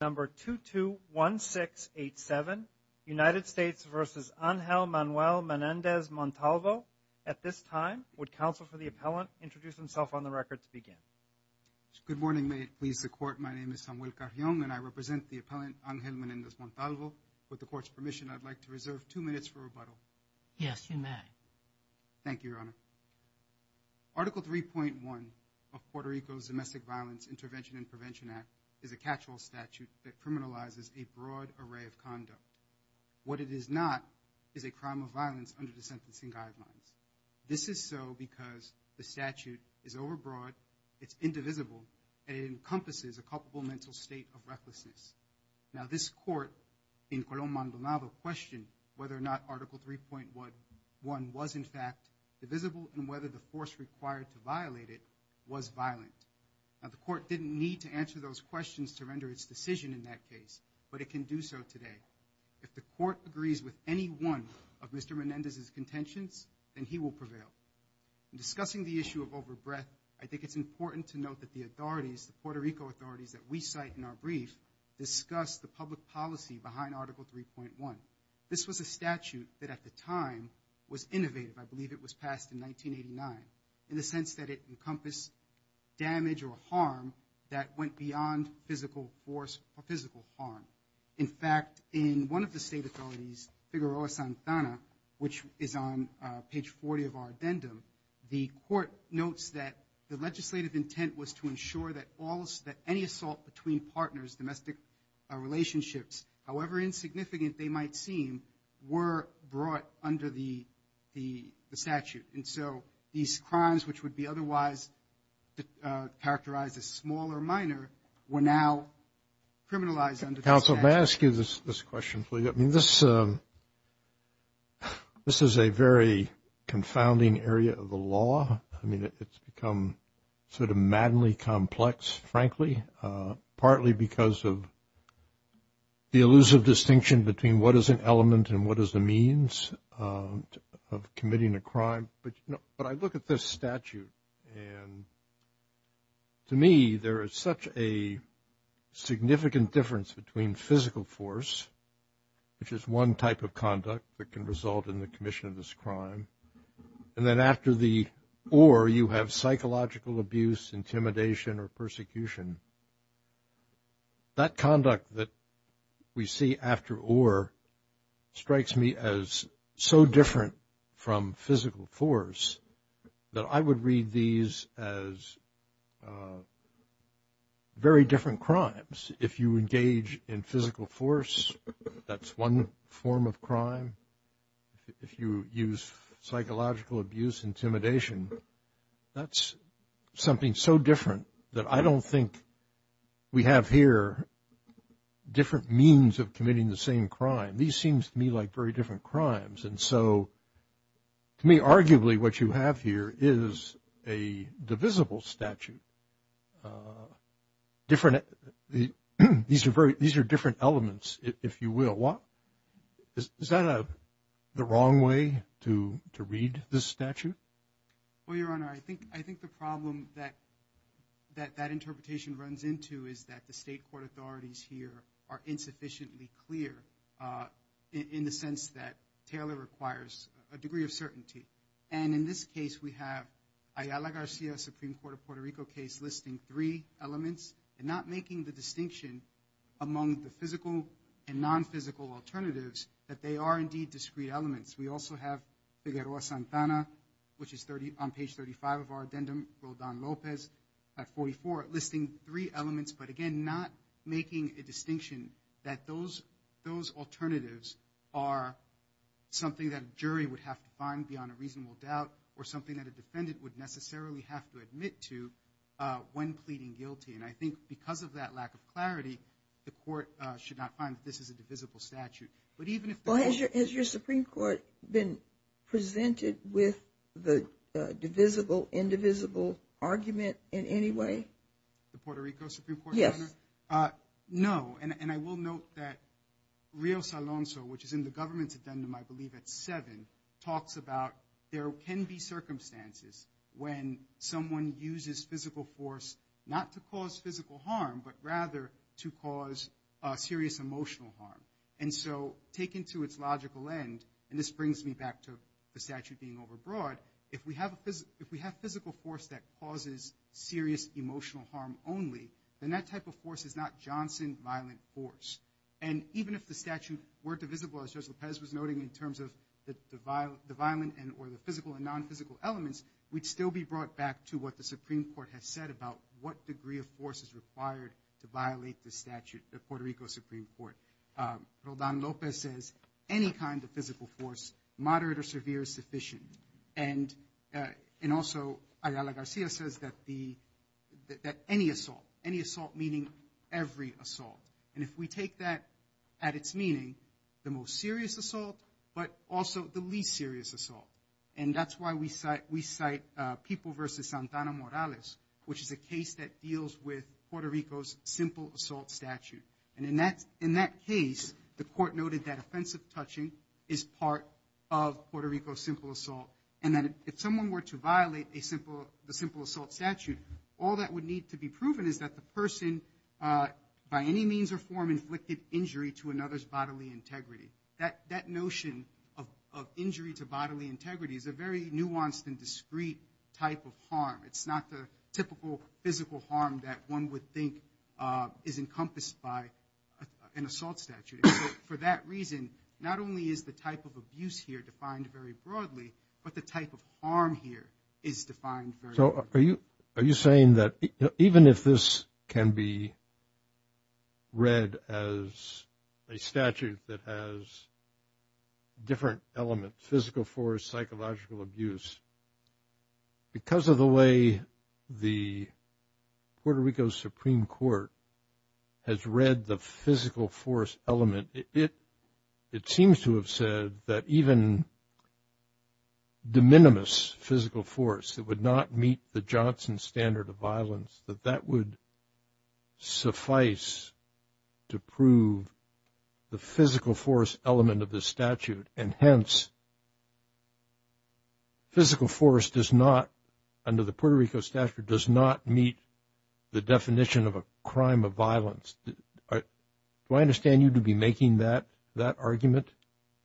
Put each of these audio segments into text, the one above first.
Number 221687 United States versus Angel Manuel Menendez-Montalvo. At this time would counsel for the appellant introduce himself on the record to begin. Good morning may it please the court my name is Samuel Carrion and I represent the appellant Angel Menendez-Montalvo. With the court's permission I'd like to reserve two minutes for rebuttal. Yes you may. Thank you your honor. Article 3.1 of Puerto Rico's Domestic Violence Intervention and Prevention Act is a catch-all statute that criminalizes a broad array of conduct. What it is not is a crime of violence under the sentencing guidelines. This is so because the statute is overbroad, it's indivisible, and it encompasses a culpable mental state of recklessness. Now this court in Colón Maldonado questioned whether or not article 3.1 was in fact divisible and whether the force required to violate it was violent. Now the court didn't need to answer those questions to render its decision in that case but it can do so today. If the court agrees with any one of Mr. Menendez's contentions then he will prevail. In discussing the issue of overbreadth I think it's important to note that the authorities, the Puerto Rico authorities that we cite in our brief, discuss the public policy behind article 3.1. This was a statute that at the time was innovative. I believe it was passed in 1989 in the sense that it encompassed damage or harm that went beyond physical force or physical harm. In fact in one of the state authorities, Figueroa Santana, which is on page 40 of our addendum, the court notes that the legislative intent was to ensure that all that any assault between partners, domestic relationships, however insignificant they might seem, were brought under the statute. And so these crimes which would be otherwise characterized as small or minor were now criminalized under the statute. Counsel, may I ask you this question please? I mean this is a very confounding area of the law. I mean it's become sort of maddeningly complex, frankly, partly because of the elusive distinction between what is an element and what is the means of committing a crime. But I look at this statute and to me there is such a significant difference between physical force, which is one type of or you have psychological abuse, intimidation, or persecution. That conduct that we see after or strikes me as so different from physical force that I would read these as very different crimes. If you engage in physical force, that's one form of crime. If you use psychological abuse, intimidation, that's something so different that I don't think we have here different means of committing the same crime. These seem to me like very different crimes. And so to me arguably what you have here is a divisible statute. These are different elements, if you will. Is that the wrong way to read this statute? Well, Your Honor, I think the problem that that interpretation runs into is that the state court authorities here are insufficiently clear in the sense that Taylor requires a degree of certainty. And in this case we have Ayala Garcia Supreme Court of Puerto Rico case listing three elements and not making the distinction among the physical and non-physical alternatives that they are indeed discrete elements. We also have Figueroa-Santana, which is on page 35 of our addendum, Rodon Lopez at 44, listing three elements but again not making a distinction that those alternatives are something that a jury would have to find beyond a reasonable doubt or something that a defendant would necessarily have to admit to when pleading guilty. And I think because of that lack of clarity, the court should not find that this is a divisible statute. Has your Supreme Court been presented with the divisible, indivisible argument in any way? The Puerto Rico Supreme Court? Yes. No, and I will note that Rio Salonzo, which is in the government's addendum, I believe at seven, talks about there can be circumstances when someone uses physical force not to cause physical harm but rather to cause serious emotional harm. And so taken to its logical end, and this brings me back to the statute being overbroad, if we have physical force that causes serious emotional harm only, then that type of force is not Johnson violent force. And even if the statute were divisible, as Judge Lopez was noting, in terms of the violent and or the physical and non-physical elements, we'd still be brought back to what the Supreme Court has said about what degree of force is Supreme Court. Rodan Lopez says any kind of physical force, moderate or severe, is sufficient. And also Ayala Garcia says that any assault, any assault meaning every assault. And if we take that at its meaning, the most serious assault but also the least serious assault. And that's why we cite we cite People v. Santana Morales, which is a case that deals with Puerto Rico's simple assault statute. And in that case, the court noted that offensive touching is part of Puerto Rico's simple assault. And that if someone were to violate the simple assault statute, all that would need to be proven is that the person by any means or form inflicted injury to another's bodily integrity. That notion of injury to bodily integrity is a very nuanced and discrete type of harm. It's not the typical physical harm that one would think is encompassed by an assault statute. For that reason, not only is the type of abuse here defined very broadly, but the type of harm here is defined. So are you are you saying that even if this can be read as a statute that has different elements, physical force, psychological abuse, because of the way the Puerto Rico Supreme Court has read the physical force element, it seems to have said that even de minimis physical force that would not meet the Johnson standard of violence, that that would suffice to prove the physical force element of the statute and hence physical force does not under the Puerto Rico statute does not meet the definition of a crime of violence. Do I understand you to be making that that argument?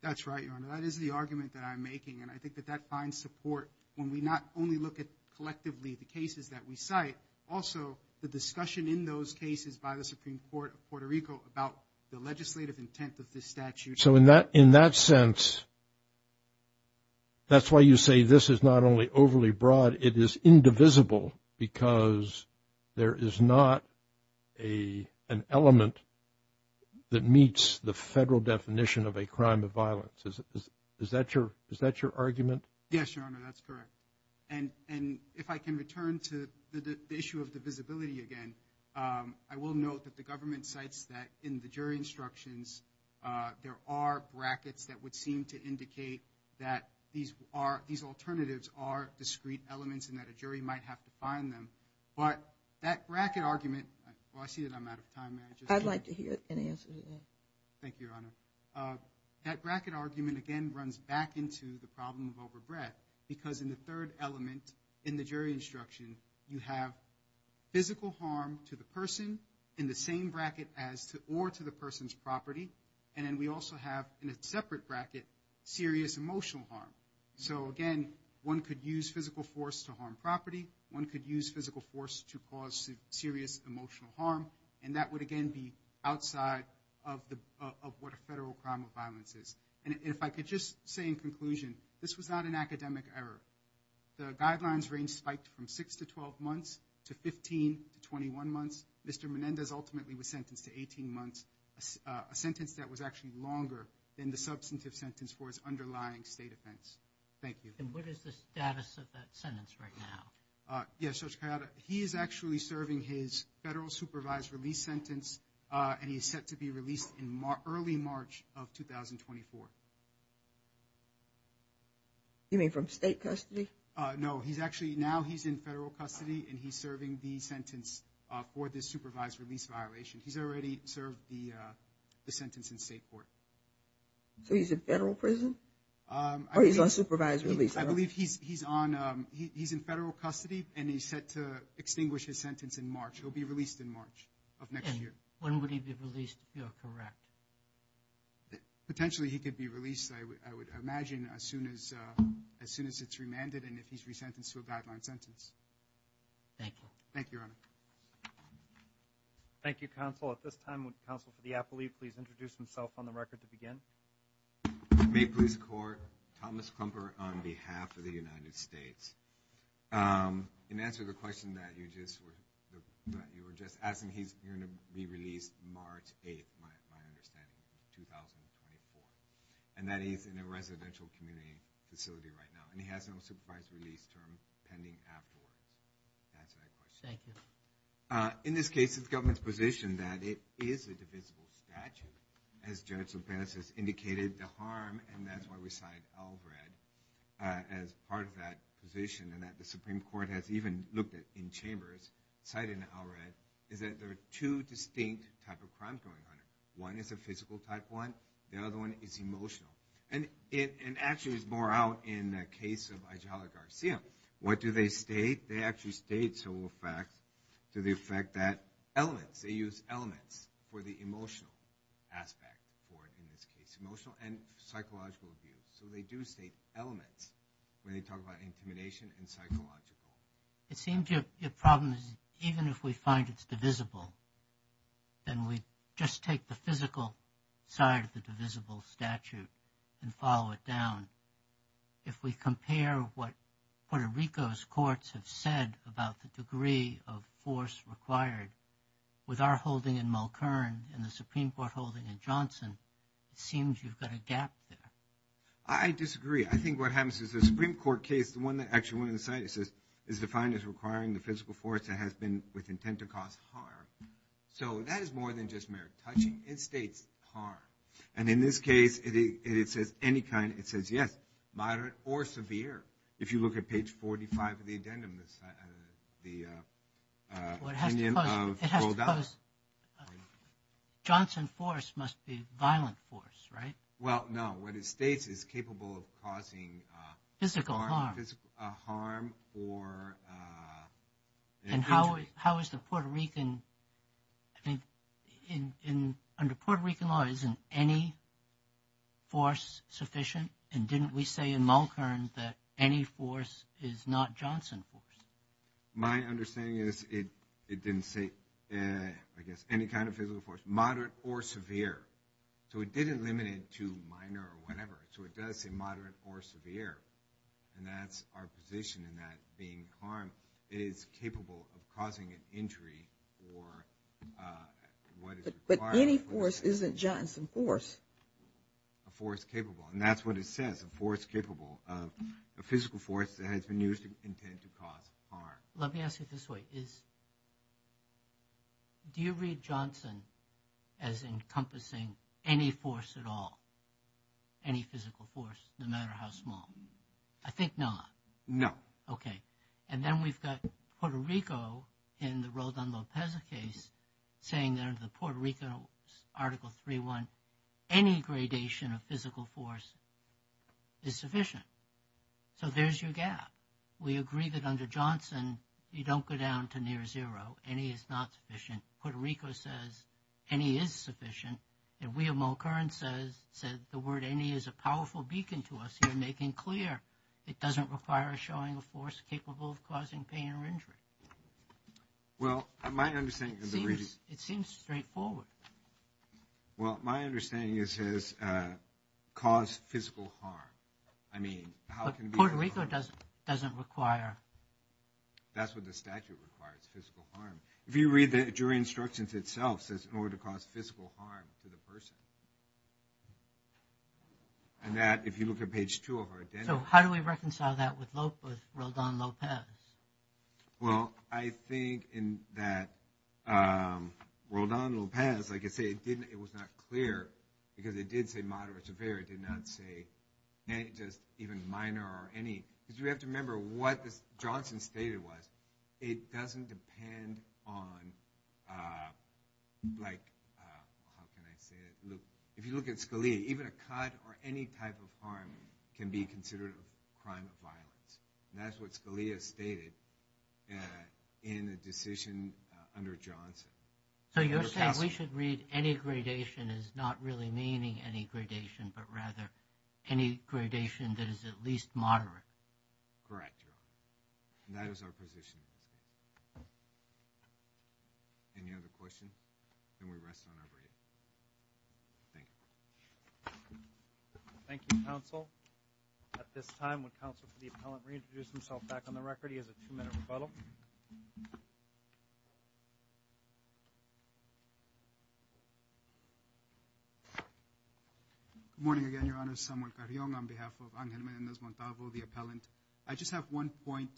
That's right, Your Honor. That is the argument that I'm making. And I think that that finds support when we not only look at collectively the cases that we cite, also the discussion in those cases by the Supreme Court of Puerto Rico about the legislative intent of this statute. So in that in that sense, that's why you say this is not only overly broad, it is indivisible because there is not a an element that meets the federal definition of a crime of violence. Is that your is that your argument? Yes, Your Honor. That's correct. And and if I can return to the issue of divisibility again, I will note that the government cites that in the jury instructions, there are brackets that would seem to indicate that these are these alternatives are discrete elements and that a jury might have to find them. But that bracket argument, well, I see that I'm out of time. I'd like to hear an answer to that. Thank you, Your Honor. That bracket argument again runs back into the problem of overbreadth, because in the third element in the jury instruction, you have physical harm to the person in the same bracket as or to the person's property. And then we also have in a separate bracket, serious emotional harm. So again, one could use physical force to harm property. One could use physical force to cause serious emotional harm. And that would again be outside of the of what a federal crime of violence is. And if I could just say in conclusion, this was not an academic error. The guidelines range spiked from six to 12 months to 15 to 21 months. Mr. Menendez ultimately was sentenced to 18 months, a sentence that was actually longer than the substantive sentence for his underlying state offense. Thank you. And what is the status of that sentence right now? Yes, Judge Cariota, he is actually serving his federal supervised release sentence, and he is set to be released in early March of 2024. You mean from state custody? No, he's actually now he's in federal custody and he's serving the sentence for this supervised release violation. He's already served the sentence in state court. So he's in federal prison? Or he's on supervised release? I believe he's in federal custody and he's set to extinguish his sentence in March. He'll be released in March of next year. And when would he be released if you're correct? Potentially he could be released, I would imagine, as soon as as soon as it's remanded and if he's resentenced to a guideline sentence. Thank you. Thank you, Your Honor. Thank you, counsel. At this time, would the counsel for the appellee please introduce himself on the record to begin? Maple Leafs Court, Thomas Klumper on behalf of the United States. In answer to the question that you just were, that you were just asking, he's going to be March 8th, my understanding, 2024. And that he's in a residential community facility right now. And he has no supervised release term pending afterwards. That's my question. Thank you. In this case, it's the government's position that it is a divisible statute, as Judge Lopez has indicated, the harm. And that's why we cite Alred as part of that position and that the Supreme Court has even looked at in chambers, cited in Alred, is that there are two distinct type of crimes going on. One is a physical type one. The other one is emotional. And it actually is more out in the case of Ijala Garcia. What do they state? They actually state several facts to the effect that elements, they use elements for the emotional aspect for it in this case, emotional and psychological abuse. So they do state elements when they talk about intimidation and psychological. It seems your problem is even if we find it's divisible, then we just take the physical side of the divisible statute and follow it down. If we compare what Puerto Rico's courts have said about the degree of force required with our holding in Mulkern and the Supreme Court holding in Johnson, it seems you've got a gap there. I disagree. I think what happens is Supreme Court case, the one that actually went on the site, it says, is defined as requiring the physical force that has been with intent to cause harm. So that is more than just mere touching. It states harm. And in this case, it says any kind. It says yes, moderate or severe. If you look at page 45 of the addendum, the opinion of Goldar. Johnson force must be violent force, right? Well, no. What it states is capable of causing physical harm. And how is the Puerto Rican, I think, under Puerto Rican law, isn't any force sufficient? And didn't we say in Mulkern that any force is not Johnson force? My understanding is it didn't say, I guess, any kind of physical force, moderate or severe. So it didn't limit it to minor or whatever. So it does say moderate or severe. And that's our position in that being harm is capable of causing an injury or what is required. But any force isn't Johnson force. A force capable. And that's what it says, a force capable of a physical force that has been used to intend to cause harm. Let me ask you this way. Do you read Johnson as encompassing any force at all? Any physical force, no matter how small? I think not. No. Okay. And then we've got Puerto Rico in the Rodan-Lopez case saying that in the Puerto Rican Article 3.1, any gradation of physical force is sufficient. So there's your gap. We agree that under Johnson, you don't go down to near zero. Any is not sufficient. Puerto Rico says any is sufficient. And William O'Kerren said the word any is a powerful beacon to us. You're making clear it doesn't require a showing of force capable of causing pain or injury. Well, my understanding of the reading. It seems straightforward. Well, my understanding is it says cause physical harm. I mean, how can we. Puerto Rico doesn't require. That's what the statute requires, physical harm. If you read the jury instructions itself, it says in order to cause physical harm to the person. And that, if you look at page two of our agenda. So how do we reconcile that with Rodan-Lopez? Well, I think in that Rodan-Lopez, like I say, it was not clear because it did say moderate or severe. It did not say just even minor or any. Because you have to remember what Johnson stated was it doesn't depend on like, how can I say it? If you look at Scalia, even a cut or any type of harm can be considered a crime of violence. And that's what Scalia stated in a decision under Johnson. So you're saying we should read any gradation as not really meaning any gradation, but rather any gradation that is at least moderate. Correct, Your Honor. And that is our position. Any other question? Then we rest on our break. Thank you. Thank you, counsel. At this time, would counsel for the appellant reintroduce himself back on the record? He has a two-minute rebuttal. Good morning again, Your Honor. Samuel Carrion on behalf of Angel Menendez Montalvo, the appellant. I just have one point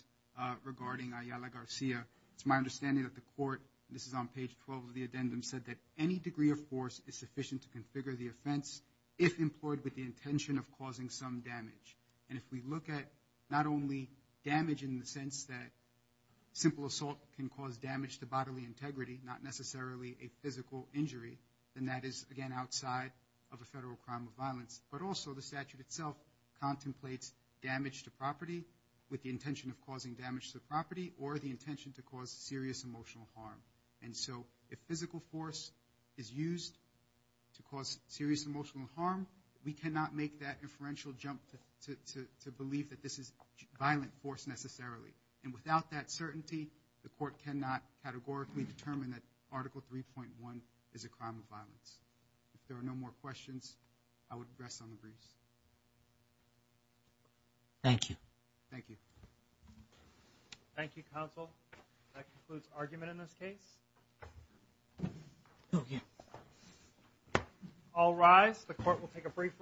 regarding Ayala Garcia. It's my understanding that the court, this is on page 12 of the addendum, said that any degree of force is sufficient to configure the offense if employed with the intention of causing some damage. And if we look at not only damage in the sense that simple assault can cause damage to bodily integrity, not necessarily a physical injury, then that is again outside of a federal crime of violence. But also the statute itself contemplates damage to property with the intention of causing damage to property or the intention to cause serious emotional harm. And so if physical force is used to cause serious emotional harm, we cannot make that inferential jump to believe that this is violent force necessarily. And without that certainty, the court cannot categorically determine that Article 3.1 is a crime of violence. If there are no more questions, I would address on the briefs. Thank you. Thank you. Thank you, counsel. That concludes argument in this case. All rise. The court will take a brief